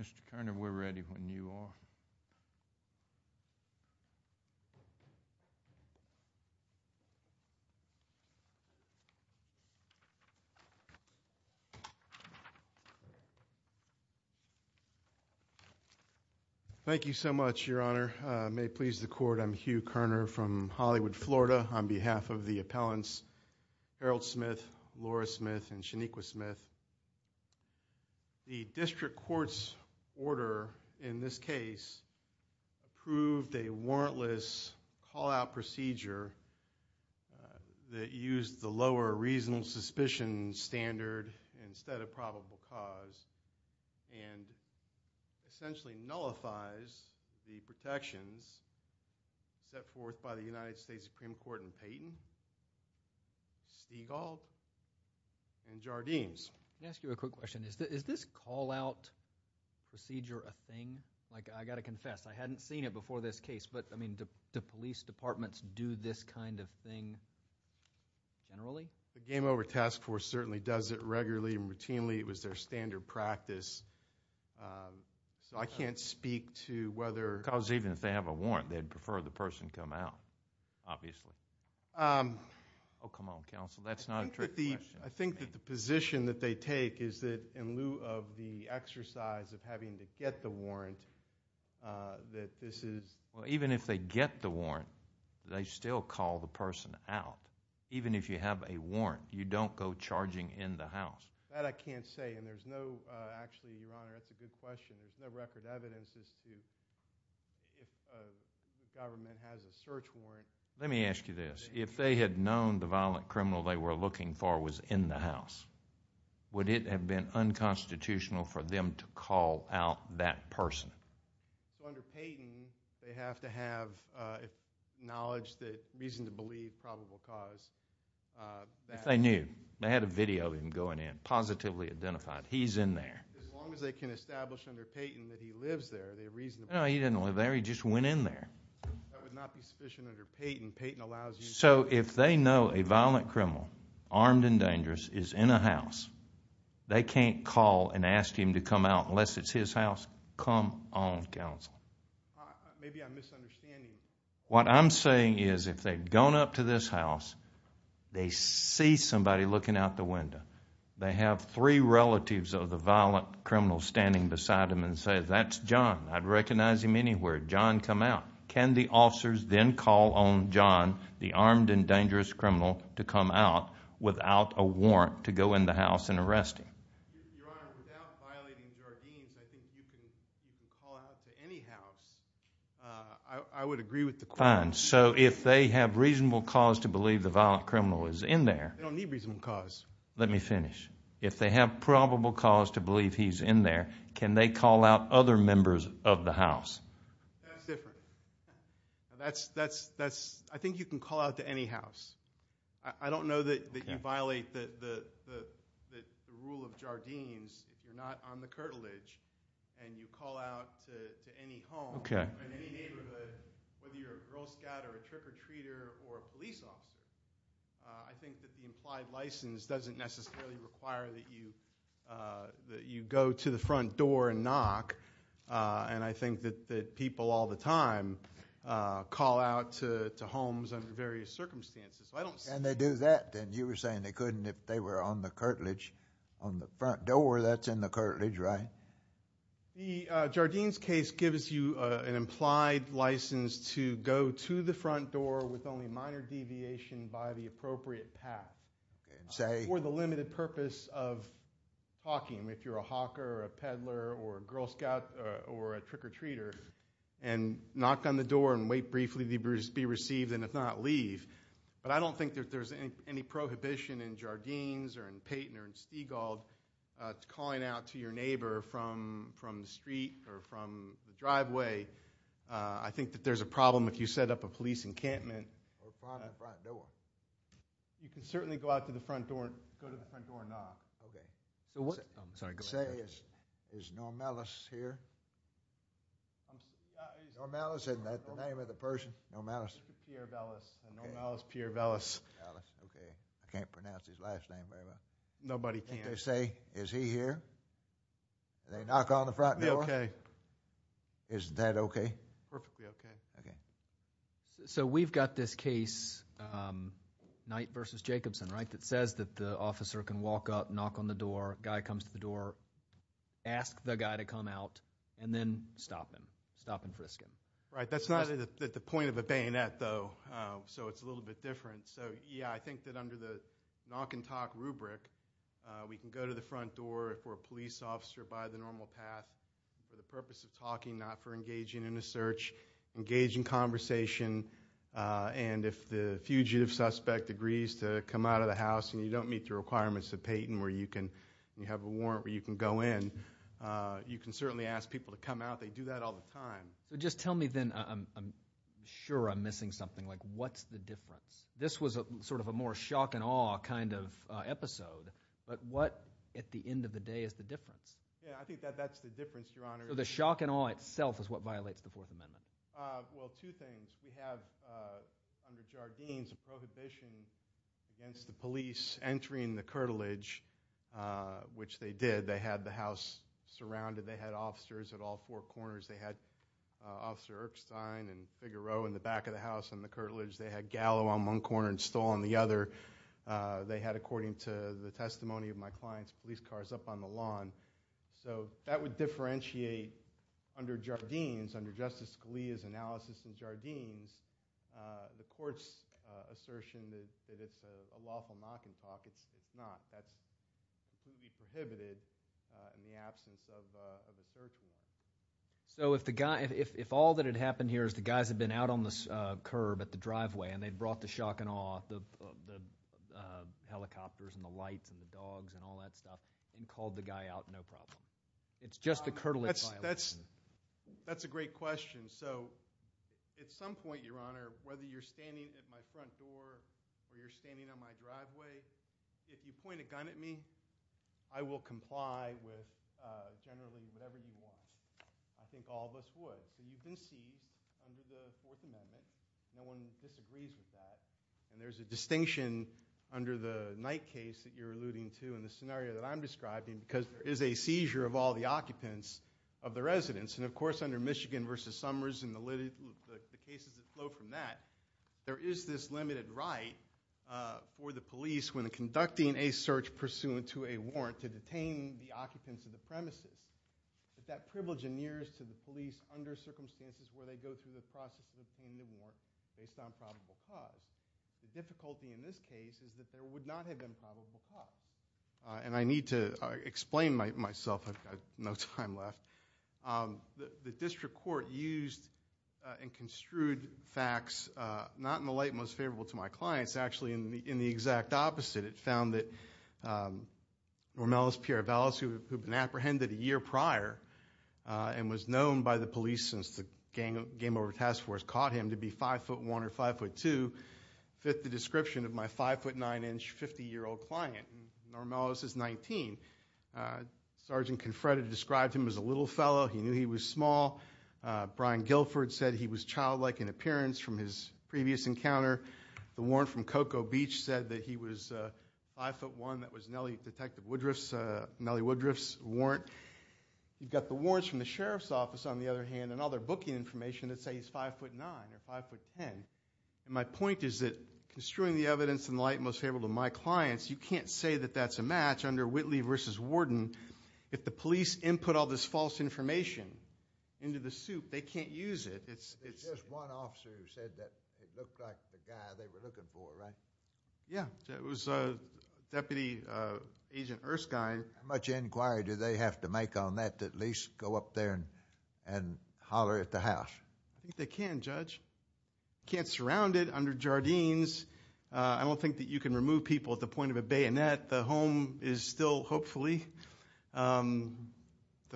Mr. Kerner, we're ready when you are. Thank you so much, Your Honor. May it please the Court, I'm Hugh Kerner from Hollywood, Florida, on behalf of the appellants Harold Smith, Laura Smith, and Shanikqua Smith. The District Court's order in this case approved a warrantless call-out procedure that used the lower reasonable suspicion standard instead of probable cause and essentially nullifies the protections set forth by the United States Supreme Court in Payton, Stiegall, and Jardines. Let me ask you a quick question. Is this call-out procedure a thing? Like, I've got to confess, I hadn't seen it before this case, but, I mean, do police departments do this kind of thing generally? The Game Over Task Force certainly does it regularly and routinely. It was their standard practice. So I can't speak to whether... Because even if they have a warrant, they'd prefer the person come out, obviously. Oh, come on, Counsel, that's not a trick question. I think that the position that they take is that in lieu of the exercise of having to get the warrant, that this is... Well, even if they get the warrant, they still call the person out. Even if you have a warrant, you don't go charging in the house. That I can't say, and there's no, actually, Your Honor, that's a good question. There's no record evidence as to if the government has a search warrant. Let me ask you this. If they had known the violent criminal they were looking for was in the house, would it have been unconstitutional for them to call out that person? So under Payton, they have to have knowledge, reason to believe probable cause. If they knew. They had a video of him going in, positively identified. He's in there. As long as they can establish under Payton that he lives there, they reasonably... No, he didn't live there. He just went in there. That would not be sufficient under Payton. Payton allows you... So if they know a violent criminal, armed and dangerous, is in a house, they can't call and ask him to come out unless it's his house? Come on, Counsel. Maybe I'm misunderstanding. What I'm saying is if they've gone up to this house, they see somebody looking out the window. They have three relatives of the violent criminal standing beside them and say, That's John. I'd recognize him anywhere. John, come out. Can the officers then call on John, the armed and dangerous criminal, to come out without a warrant to go in the house and arrest him? Your Honor, without violating Jardines, I think you can call out to any house. I would agree with the question. Fine. So if they have reasonable cause to believe the violent criminal is in there... They don't need reasonable cause. Let me finish. If they have probable cause to believe he's in there, can they call out other members of the house? That's different. I think you can call out to any house. I don't know that you violate the rule of Jardines if you're not on the curtilage and you call out to any home in any neighborhood, whether you're a Girl Scout or a trick-or-treater or a police officer. I think that the implied license doesn't necessarily require that you go to the front door and knock. And I think that people all the time call out to homes under various circumstances. Can they do that then? You were saying they couldn't if they were on the curtilage. On the front door, that's in the curtilage, right? The Jardines case gives you an implied license to go to the front door with only minor deviation by the appropriate path for the limited purpose of talking. If you're a hawker or a peddler or a Girl Scout or a trick-or-treater and knock on the door and wait briefly to be received and if not, leave. But I don't think that there's any prohibition in Jardines or in Payton or in Stegall to calling out to your neighbor from the street or from the driveway. I think that there's a problem if you set up a police encampment. Or find the front door. You can certainly go out to the front door and go to the front door and knock. Okay. Say, is Normellis here? Normellis, isn't that the name of the person? Normellis. Pierre Vellis. Normellis, Pierre Vellis. Okay. I can't pronounce his last name very well. Nobody can. They say, is he here? They knock on the front door. Okay. Is that okay? Perfectly okay. Okay. So we've got this case, Knight v. Jacobson, right, that says that the officer can walk up, knock on the door, guy comes to the door, ask the guy to come out, and then stop him, stop and frisk him. Right. That's not at the point of a bayonet, though, so it's a little bit different. So, yeah, I think that under the knock and talk rubric, we can go to the front door if we're a police officer by the normal path for the purpose of talking, not for engaging in a search, engaging conversation. And if the fugitive suspect agrees to come out of the house and you don't meet the requirements of Peyton where you can have a warrant where you can go in, you can certainly ask people to come out. They do that all the time. So just tell me then, I'm sure I'm missing something, like what's the difference? This was sort of a more shock and awe kind of episode, but what at the end of the day is the difference? Yeah, I think that that's the difference, Your Honor. So the shock and awe itself is what violates the Fourth Amendment? Well, two things. We have under Jardines a prohibition against the police entering the curtilage, which they did. They had the house surrounded. They had officers at all four corners. They had Officer Erkstein and Figuereau in the back of the house in the curtilage. They had Gallo on one corner and Stoll on the other. They had, according to the testimony of my clients, police cars up on the lawn. So that would differentiate under Jardines, under Justice Scalia's analysis in Jardines, the court's assertion that it's a lawful knock and talk. It's not. That's completely prohibited in the absence of a search warrant. So if all that had happened here is the guys had been out on the curb at the driveway and they'd brought the shock and awe, the helicopters and the lights and the dogs and all that stuff, and called the guy out, no problem. It's just the curtilage violation. That's a great question. So at some point, Your Honor, whether you're standing at my front door or you're standing on my driveway, if you point a gun at me, I will comply with generally whatever you want. I think all of us would. So you've been seized under the Fourth Amendment. No one disagrees with that. And there's a distinction under the Knight case that you're alluding to and the scenario that I'm describing because there is a seizure of all the occupants of the residence. And, of course, under Michigan v. Summers and the cases that flow from that, there is this limited right for the police, when conducting a search pursuant to a warrant, to detain the occupants of the premises. But that privilege inheres to the police under circumstances where they go through the process of obtaining the warrant based on probable cause. The difficulty in this case is that there would not have been probable cause. And I need to explain myself. I've got no time left. The district court used and construed facts not in the light most favorable to my clients. Actually, in the exact opposite. It found that Normellis Pieravellis, who had been apprehended a year prior and was known by the police since the Game Over Task Force caught him to be 5'1 or 5'2, fit the description of my 5'9-inch, 50-year-old client. Normellis is 19. Sergeant Confred described him as a little fellow. He knew he was small. Brian Guilford said he was childlike in appearance from his previous encounter. The warrant from Cocoa Beach said that he was 5'1. That was Nellie Woodruff's warrant. You've got the warrants from the Sheriff's Office, on the other hand, and all their booking information that say he's 5'9 or 5'10. And my point is that construing the evidence in the light most favorable to my clients, you can't say that that's a match under Whitley v. Warden. If the police input all this false information into the soup, they can't use it. There's just one officer who said that it looked like the guy they were looking for, right? Yeah. It was Deputy Agent Erskine. How much inquiry do they have to make on that to at least go up there and holler at the house? I think they can, Judge. You can't surround it under Jardines. I don't think that you can remove people at the point of a bayonet. The home is still, hopefully, the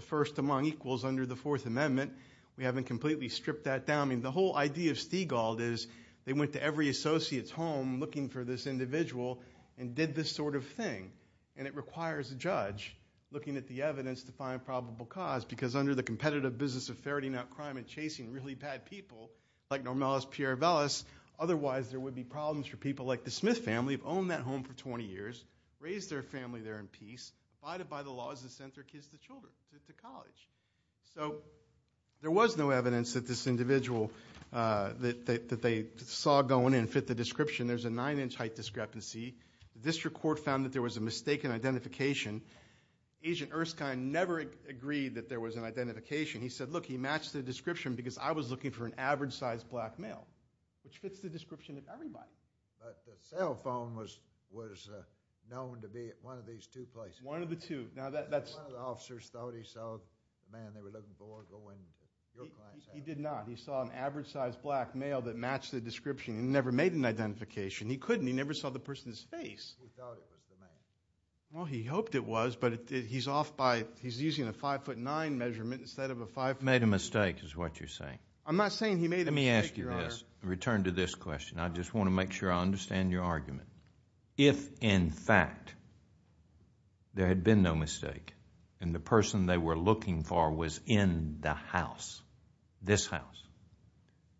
first among equals under the Fourth Amendment. We haven't completely stripped that down. I mean the whole idea of Stiegald is they went to every associate's home looking for this individual and did this sort of thing, and it requires a judge looking at the evidence to find probable cause because under the competitive business of ferreting out crime and chasing really bad people, like Normalis Pieravellis, otherwise there would be problems for people like the Smith family who've owned that home for 20 years, raised their family there in peace, abided by the laws and sent their kids to college. So there was no evidence that this individual that they saw going in fit the description. There's a 9-inch height discrepancy. The district court found that there was a mistaken identification. Agent Erskine never agreed that there was an identification. He said, look, he matched the description because I was looking for an average-sized black male, which fits the description of everybody. But the cell phone was known to be at one of these two places. One of the two. One of the officers thought he saw the man they were looking for go into your client's house. He did not. He saw an average-sized black male that matched the description. He never made an identification. He couldn't. He never saw the person's face. Who thought it was the man? Well, he hoped it was, but he's off by, he's using a 5'9 measurement instead of a 5'. Made a mistake is what you're saying. I'm not saying he made a mistake, Your Honor. Let me ask you this in return to this question. I just want to make sure I understand your argument. If, in fact, there had been no mistake and the person they were looking for was in the house, this house,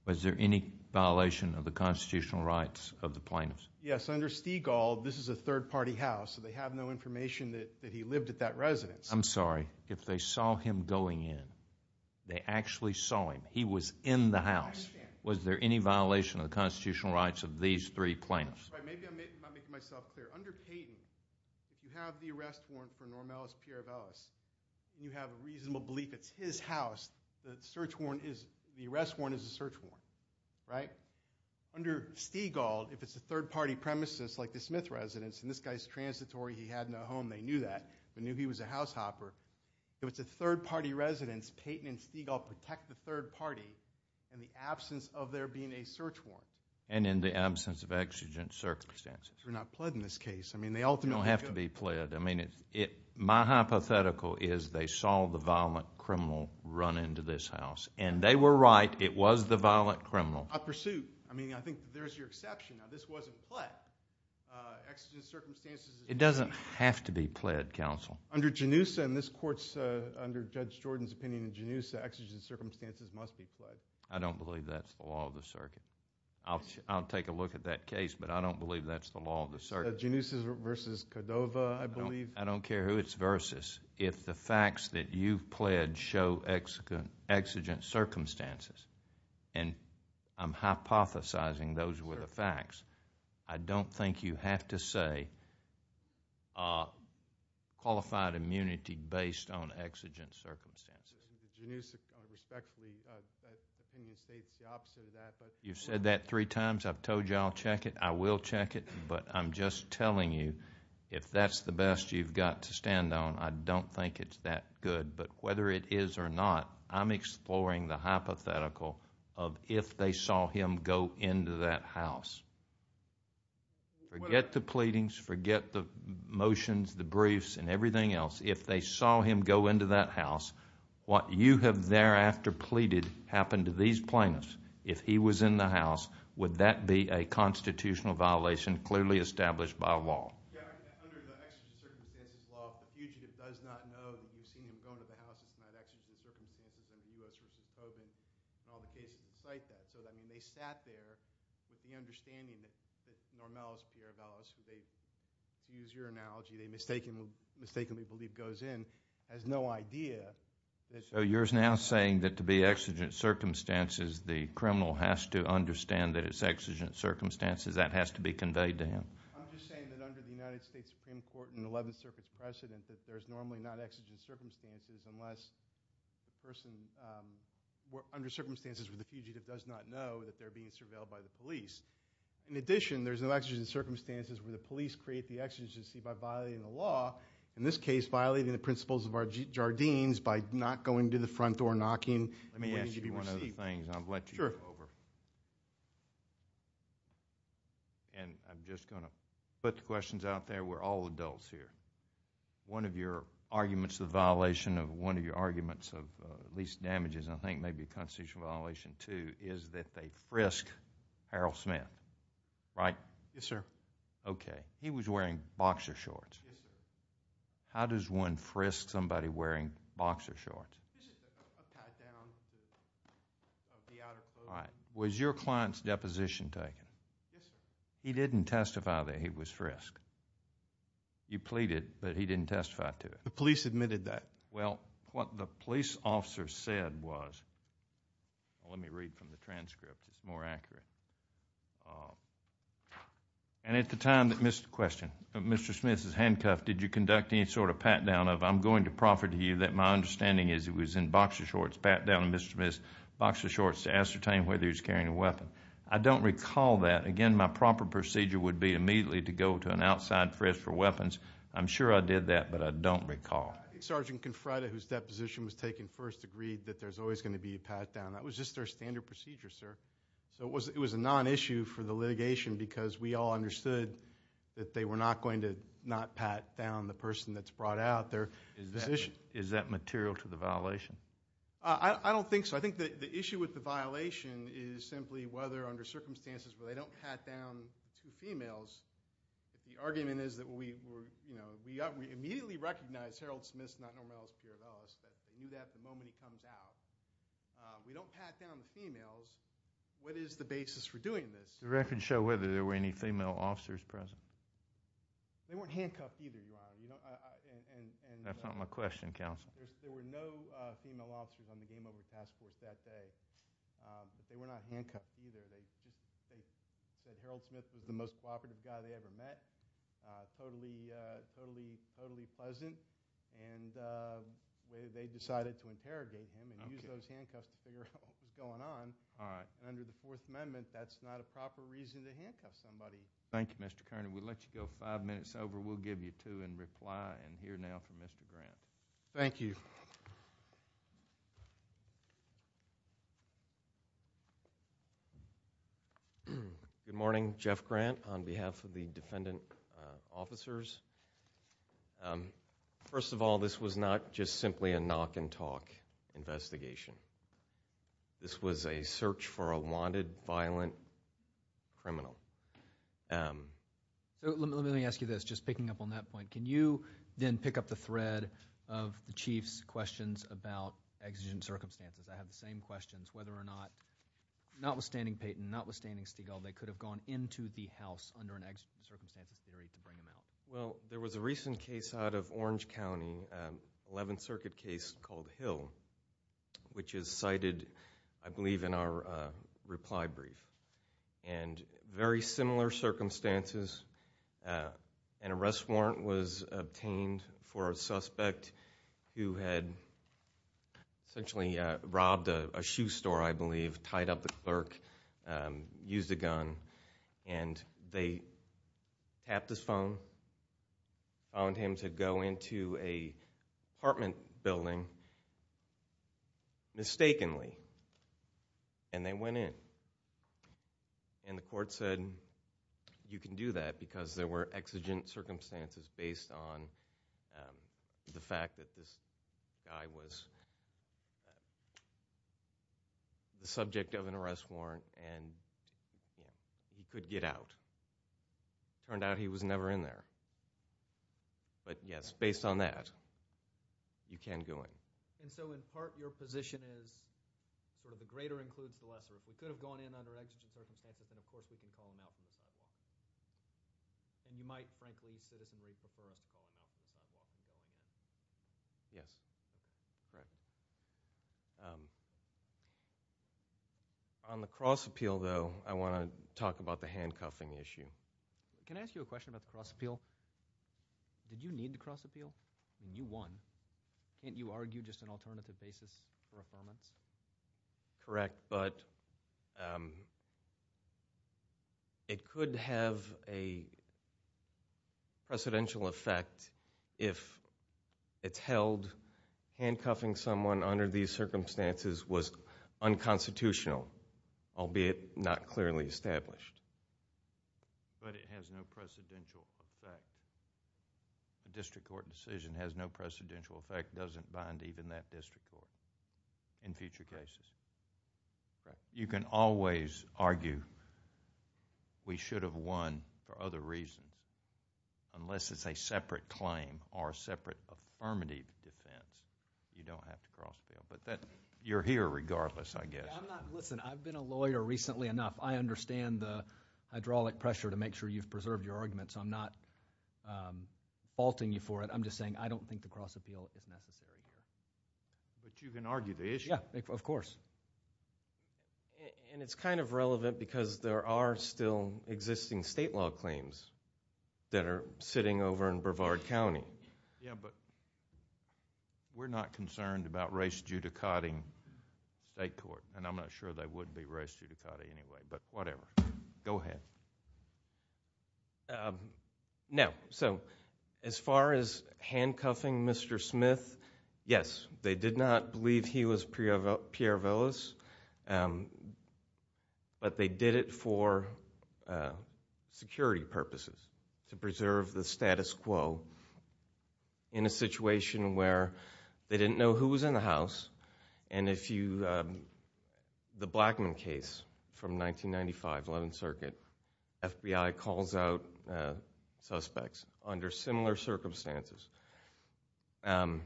was there any violation of the constitutional rights of the plaintiffs? Yes. Under Stigall, this is a third-party house, so they have no information that he lived at that residence. I'm sorry. If they saw him going in, they actually saw him. He was in the house. I understand. Was there any violation of the constitutional rights of these three plaintiffs? All right. Maybe I'm not making myself clear. Under Peyton, if you have the arrest warrant for Normalis Pierrevelis and you have a reasonable belief it's his house, the search warrant is, the arrest warrant is a search warrant, right? Under Stigall, if it's a third-party premises like the Smith residence, and this guy's transitory, he had no home, they knew that. They knew he was a househopper. If it's a third-party residence, Peyton and Stigall protect the third party in the absence of there being a search warrant. And in the absence of exigent circumstances. They're not pled in this case. I mean, they ultimately could. They don't have to be pled. I mean, my hypothetical is they saw the violent criminal run into this house. And they were right. It was the violent criminal. A pursuit. I mean, I think there's your exception. Now, this wasn't pled. Exigent circumstances. It doesn't have to be pled, counsel. Under Genusa, and this court's under Judge Jordan's opinion in Genusa, exigent circumstances must be pled. I don't believe that's the law of the circuit. I'll take a look at that case, but I don't believe that's the law of the circuit. Genusa versus Cordova, I believe. I don't care who it's versus. If the facts that you've pled show exigent circumstances, and I'm hypothesizing those were the facts, I don't think you have to say qualified immunity based on exigent circumstances. Genusa, respectfully, that opinion states the opposite of that. You've said that three times. I've told you I'll check it. I will check it. But I'm just telling you, if that's the best you've got to stand on, I don't think it's that good. But whether it is or not, I'm exploring the hypothetical of if they saw him go into that house. Forget the pleadings. Forget the motions, the briefs, and everything else. If they saw him go into that house, what you have thereafter pleaded happened to these plaintiffs. If he was in the house, would that be a constitutional violation clearly established by law? Yeah, I mean, under the exigent circumstances law, if the fugitive does not know that you've seen him go into the house, it's not exigent circumstances under U.S. v. Kobin and all the cases that cite that. So, I mean, they sat there with the understanding that Normellos, Pierre Vellos, who they, to use your analogy, they mistakenly believe goes in, has no idea. So you're now saying that to be exigent circumstances, the criminal has to understand that it's exigent circumstances, that has to be conveyed to him. I'm just saying that under the United States Supreme Court in the Eleventh Circuit's precedent, that there's normally not exigent circumstances unless the person, under circumstances where the fugitive does not know that they're being surveilled by the police. In addition, there's no exigent circumstances where the police create the exigency by violating the law, in this case, violating the principles of our Jardines by not going to the front door and knocking. Let me ask you one other thing, and I'll let you go over. Sure. And I'm just going to put the questions out there. We're all adults here. One of your arguments, the violation of one of your arguments of at least damages, and I think maybe a constitutional violation too, is that they frisk Harold Smith, right? Yes, sir. Okay. He was wearing boxer shorts. Yes, sir. How does one frisk somebody wearing boxer shorts? It's a tie-down of the outer clothing. All right. Was your client's deposition taken? Yes, sir. He didn't testify that he was frisked. You pleaded, but he didn't testify to it. The police admitted that. Well, what the police officer said was, let me read from the transcript. It's more accurate. And at the time that Mr. Smith is handcuffed, did you conduct any sort of pat-down? I'm going to proffer to you that my understanding is it was in boxer shorts, pat-down of Mr. Smith's boxer shorts to ascertain whether he was carrying a weapon. I don't recall that. Again, my proper procedure would be immediately to go to an outside frisk for weapons. I'm sure I did that, but I don't recall. I think Sergeant Confreda, whose deposition was taken first, agreed that there's always going to be a pat-down. That was just their standard procedure, sir. So it was a non-issue for the litigation because we all understood that they were not going to not pat down the person that's brought out there. Is that material to the violation? I don't think so. I think the issue with the violation is simply whether, under circumstances where they don't pat down two females, the argument is that we immediately recognized Harold Smith's not-normal-as-Piravellas, that they knew that the moment he comes out. We don't pat down the females. What is the basis for doing this? The records show whether there were any female officers present. They weren't handcuffed either, Your Honor. That's not my question, Counsel. There were no female officers on the game-over task force that day. But they were not handcuffed either. They said Harold Smith was the most cooperative guy they ever met, totally pleasant, and they decided to interrogate him and use those handcuffs to figure out what was going on. All right. Under the Fourth Amendment, that's not a proper reason to handcuff somebody. Thank you, Mr. Kearney. We'll let you go five minutes over. We'll give you two and reply and hear now from Mr. Grant. Thank you. Good morning. Jeff Grant on behalf of the defendant officers. First of all, this was not just simply a knock-and-talk investigation. This was a search for a wanted violent criminal. So let me ask you this, just picking up on that point. Can you then pick up the thread of the Chief's questions about exigent circumstances? I have the same questions, whether or not, notwithstanding Payton, notwithstanding Stigall, they could have gone into the house under an exigent circumstances theory to bring him out. Well, there was a recent case out of Orange County, an 11th Circuit case called Hill, which is cited, I believe, in our reply brief. And very similar circumstances. An arrest warrant was obtained for a suspect who had essentially robbed a shoe store, I believe, tied up the clerk, used a gun, and they tapped his phone, found him to go into an apartment building mistakenly, and they went in. And the court said, you can do that because there were exigent circumstances based on the fact that this guy was the subject of an arrest warrant and he could get out. Turned out he was never in there. But yes, based on that, you can go in. And so in part, your position is sort of the greater includes the lesser. If we could have gone in under exigent circumstances, then of course we can call him out from the sidewalk. And you might, frankly, citizenry, prefer us to call him out from the sidewalk than going in. Yes, correct. On the cross appeal, though, I want to talk about the handcuffing issue. Can I ask you a question about the cross appeal? Did you need the cross appeal? You won. Can't you argue just an alternative basis for affirmance? Correct, but it could have a precedential effect if it's held, handcuffing someone under these circumstances was unconstitutional, albeit not clearly established. But it has no precedential effect. A district court decision has no precedential effect, doesn't bind even that district court in future cases. Correct. You can always argue we should have won for other reasons. Unless it's a separate claim or a separate affirmative defense, you don't have to cross appeal. But you're here regardless, I guess. Listen, I've been a lawyer recently enough. I understand the hydraulic pressure to make sure you've preserved your arguments. I'm not faulting you for it. I'm just saying I don't think the cross appeal is necessary here. But you can argue the issue. Yeah, of course. And it's kind of relevant because there are still existing state law claims that are sitting over in Brevard County. Yeah, but we're not concerned about race judicating state court, and I'm not sure they would be race judicating anyway, but whatever. Go ahead. Now, so as far as handcuffing Mr. Smith, yes, they did not believe he was Pierre Willis, but they did it for security purposes to preserve the status quo in a situation where they didn't know who was in the house. And the Blackman case from 1995, 11th Circuit, FBI calls out suspects under similar circumstances, and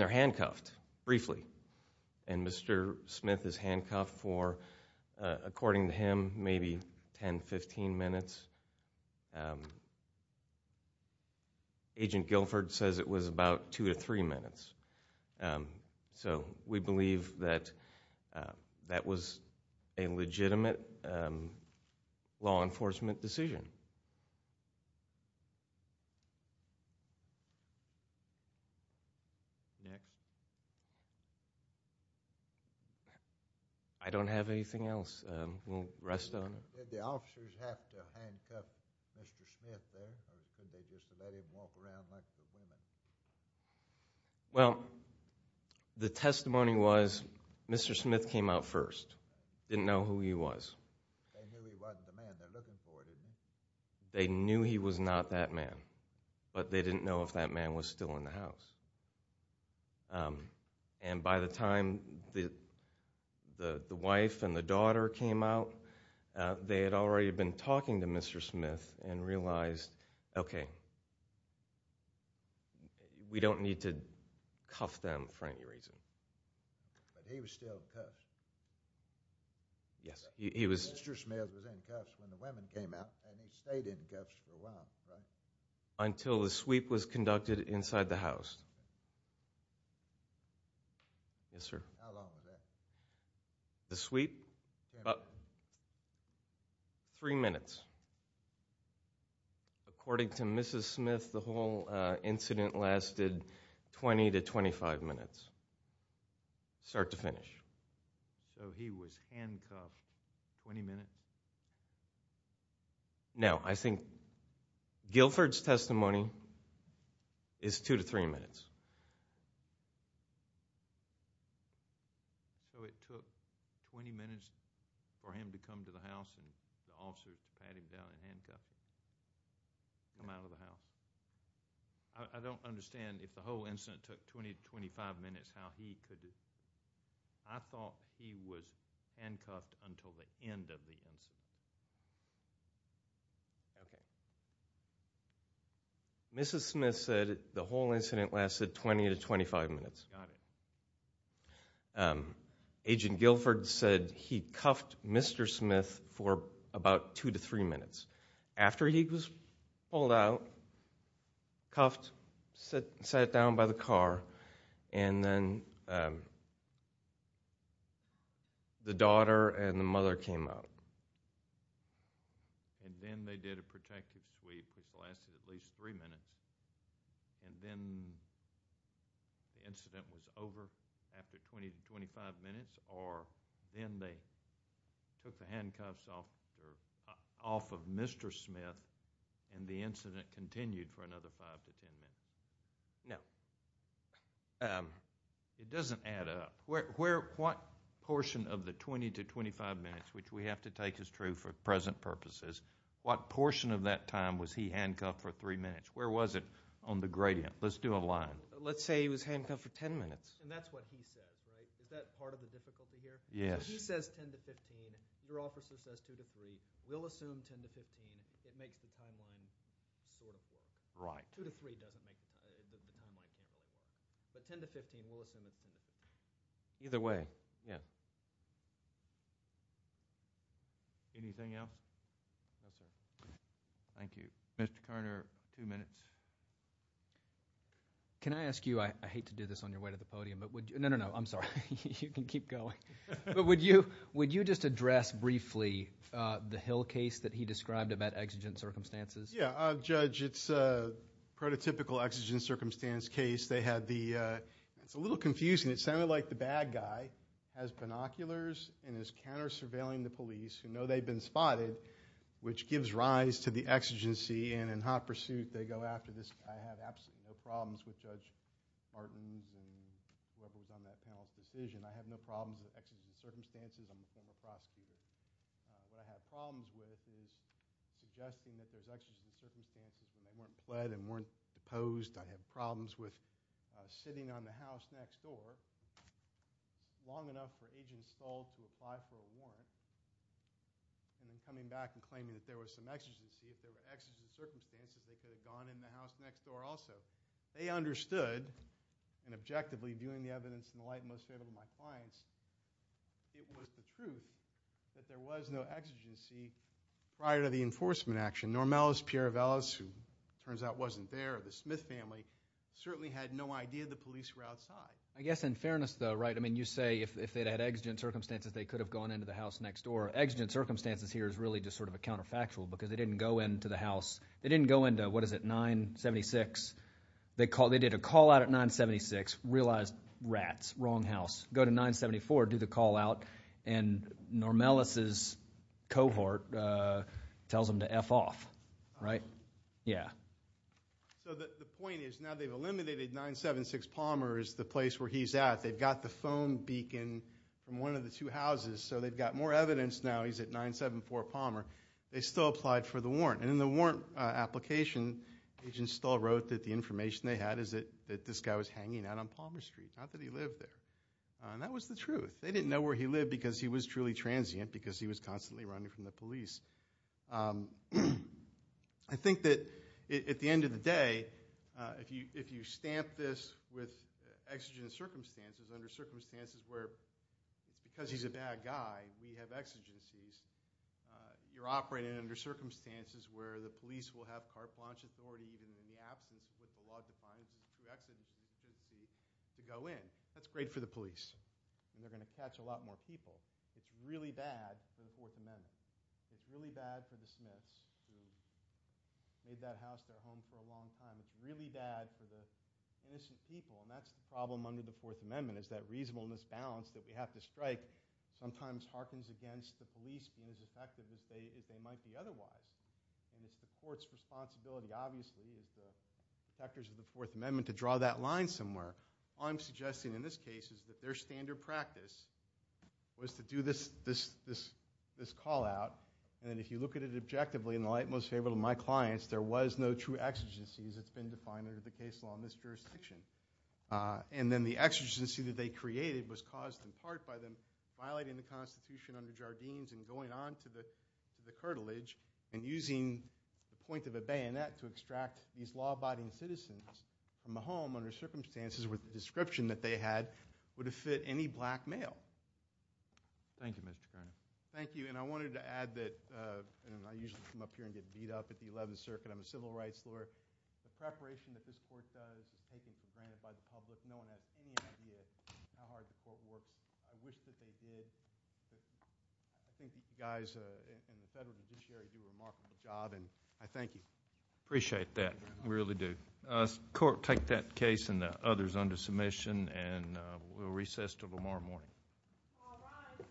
they're handcuffed briefly. And Mr. Smith is handcuffed for, according to him, maybe 10, 15 minutes. Agent Guilford says it was about two to three minutes. So we believe that that was a legitimate law enforcement decision. Next. I don't have anything else. We'll rest on it. Did the officers have to handcuff Mr. Smith there, or could they just have let him walk around like the women? Well, the testimony was Mr. Smith came out first, didn't know who he was. They knew he wasn't the man they're looking for, didn't they? They knew he was not that man, but they didn't know if that man was still in the house. And by the time the wife and the daughter came out, they had already been talking to Mr. Smith and realized, okay, we don't need to cuff them for any reason. But he was still cuffed. Yes, he was. Mr. Smith was in cuffs when the women came out, and he stayed in cuffs for a while, right? Until the sweep was conducted inside the house. Yes, sir. How long was that? The sweep? Three minutes. According to Mrs. Smith, the whole incident lasted 20 to 25 minutes, start to finish. So he was handcuffed 20 minutes? No, I think Guilford's testimony is two to three minutes. So it took 20 minutes for him to come to the house and the officers to pat him down and handcuff him? Come out of the house? I don't understand if the whole incident took 20 to 25 minutes how he could. I thought he was handcuffed until the end of the incident. Okay. Mrs. Smith said the whole incident lasted 20 to 25 minutes. Got it. Agent Guilford said he cuffed Mr. Smith for about two to three minutes. After he was pulled out, cuffed, sat down by the car, and then the daughter and the mother came out. And then they did a protective sweep, which lasted at least three minutes, and then the incident was over after 20 to 25 minutes, or then they took the handcuffs off of Mr. Smith and the incident continued for another five to ten minutes. Now, it doesn't add up. What portion of the 20 to 25 minutes, which we have to take as true for present purposes, what portion of that time was he handcuffed for three minutes? Where was it on the gradient? Let's do a line. Let's say he was handcuffed for ten minutes. And that's what he says, right? Is that part of the difficulty here? Yes. He says 10 to 15. Your officer says 2 to 3. We'll assume 10 to 15. It makes the timeline sort of work. Right. 2 to 3 doesn't make the timeline work. But 10 to 15, we'll assume it's 10 to 15. Either way. Yeah. Anything else? No, sir. Thank you. Mr. Carter, two minutes. Can I ask you, I hate to do this on your way to the podium, but would you ñ no, no, no. I'm sorry. You can keep going. But would you just address briefly the Hill case that he described about exigent circumstances? Yeah. Judge, it's a prototypical exigent circumstance case. They had the ñ it's a little confusing. It sounded like the bad guy has binoculars and is counter-surveilling the police who know they've been spotted, which gives rise to the exigency. And in hot pursuit, they go after this guy. I have absolutely no problems with Judge Martin's and whoever was on that panel's decision. I have no problems with exigent circumstances. I'm a former prosecutor. What I have problems with is suggesting that there's exigent circumstances when they weren't pled and weren't deposed. I have problems with sitting on the house next door long enough for Agent Stull to apply for a warrant and then coming back and claiming that there was some exigency. If there were exigent circumstances, they could have gone in the house next door also. They understood, and objectively, viewing the evidence in the light most favorable to my clients, it was the truth that there was no exigency prior to the enforcement action. Normellis, Pieravellis, who it turns out wasn't there, or the Smith family, certainly had no idea the police were outside. I guess in fairness, though, right, I mean you say if they'd had exigent circumstances, they could have gone into the house next door. Exigent circumstances here is really just sort of a counterfactual because they didn't go into the house. They didn't go into, what is it, 976. They did a call out at 976, realized rats, wrong house. Go to 974, do the call out, and Normellis' cohort tells them to F off, right? Yeah. So the point is now they've eliminated 976 Palmer as the place where he's at. They've got the phone beacon from one of the two houses, so they've got more evidence now he's at 974 Palmer. They still applied for the warrant, and in the warrant application, agents still wrote that the information they had is that this guy was hanging out on Palmer Street, not that he lived there. And that was the truth. They didn't know where he lived because he was truly transient because he was constantly running from the police. I think that at the end of the day, if you stamp this with exigent circumstances, under circumstances where it's because he's a bad guy, we have exigencies, you're operating under circumstances where the police will have carte blanche authority even in the absence of what the law defines as a true exigency to go in. That's great for the police, and they're going to catch a lot more people. It's really bad for the Fourth Amendment. It's really bad for the Smiths who made that house their home for a long time. It's really bad for the innocent people, and that's the problem under the Fourth Amendment is that reasonableness balance that we have to strike sometimes harkens against the police being as effective as they might be otherwise. And it's the court's responsibility, obviously, as the protectors of the Fourth Amendment, to draw that line somewhere. All I'm suggesting in this case is that their standard practice was to do this call out, and if you look at it objectively, in the light most favorable to my clients, there was no true exigencies that's been defined under the case law in this jurisdiction. And then the exigency that they created was caused in part by them violating the Constitution under Jardines and going on to the cartilage and using the point of a bayonet to extract these law-abiding citizens from the home under circumstances where the description that they had would have fit any black male. Thank you, Mr. Carney. Thank you, and I wanted to add that I usually come up here and get beat up at the Eleventh Circuit. I'm a civil rights lawyer. The preparation that this court does is taken for granted by the public. No one has any idea how hard the court works. I wish that they did, but I think you guys and the federal judiciary do a remarkable job, and I thank you. Appreciate that. We really do. Court, take that case and the others under submission, and we'll recess until tomorrow morning. All rise.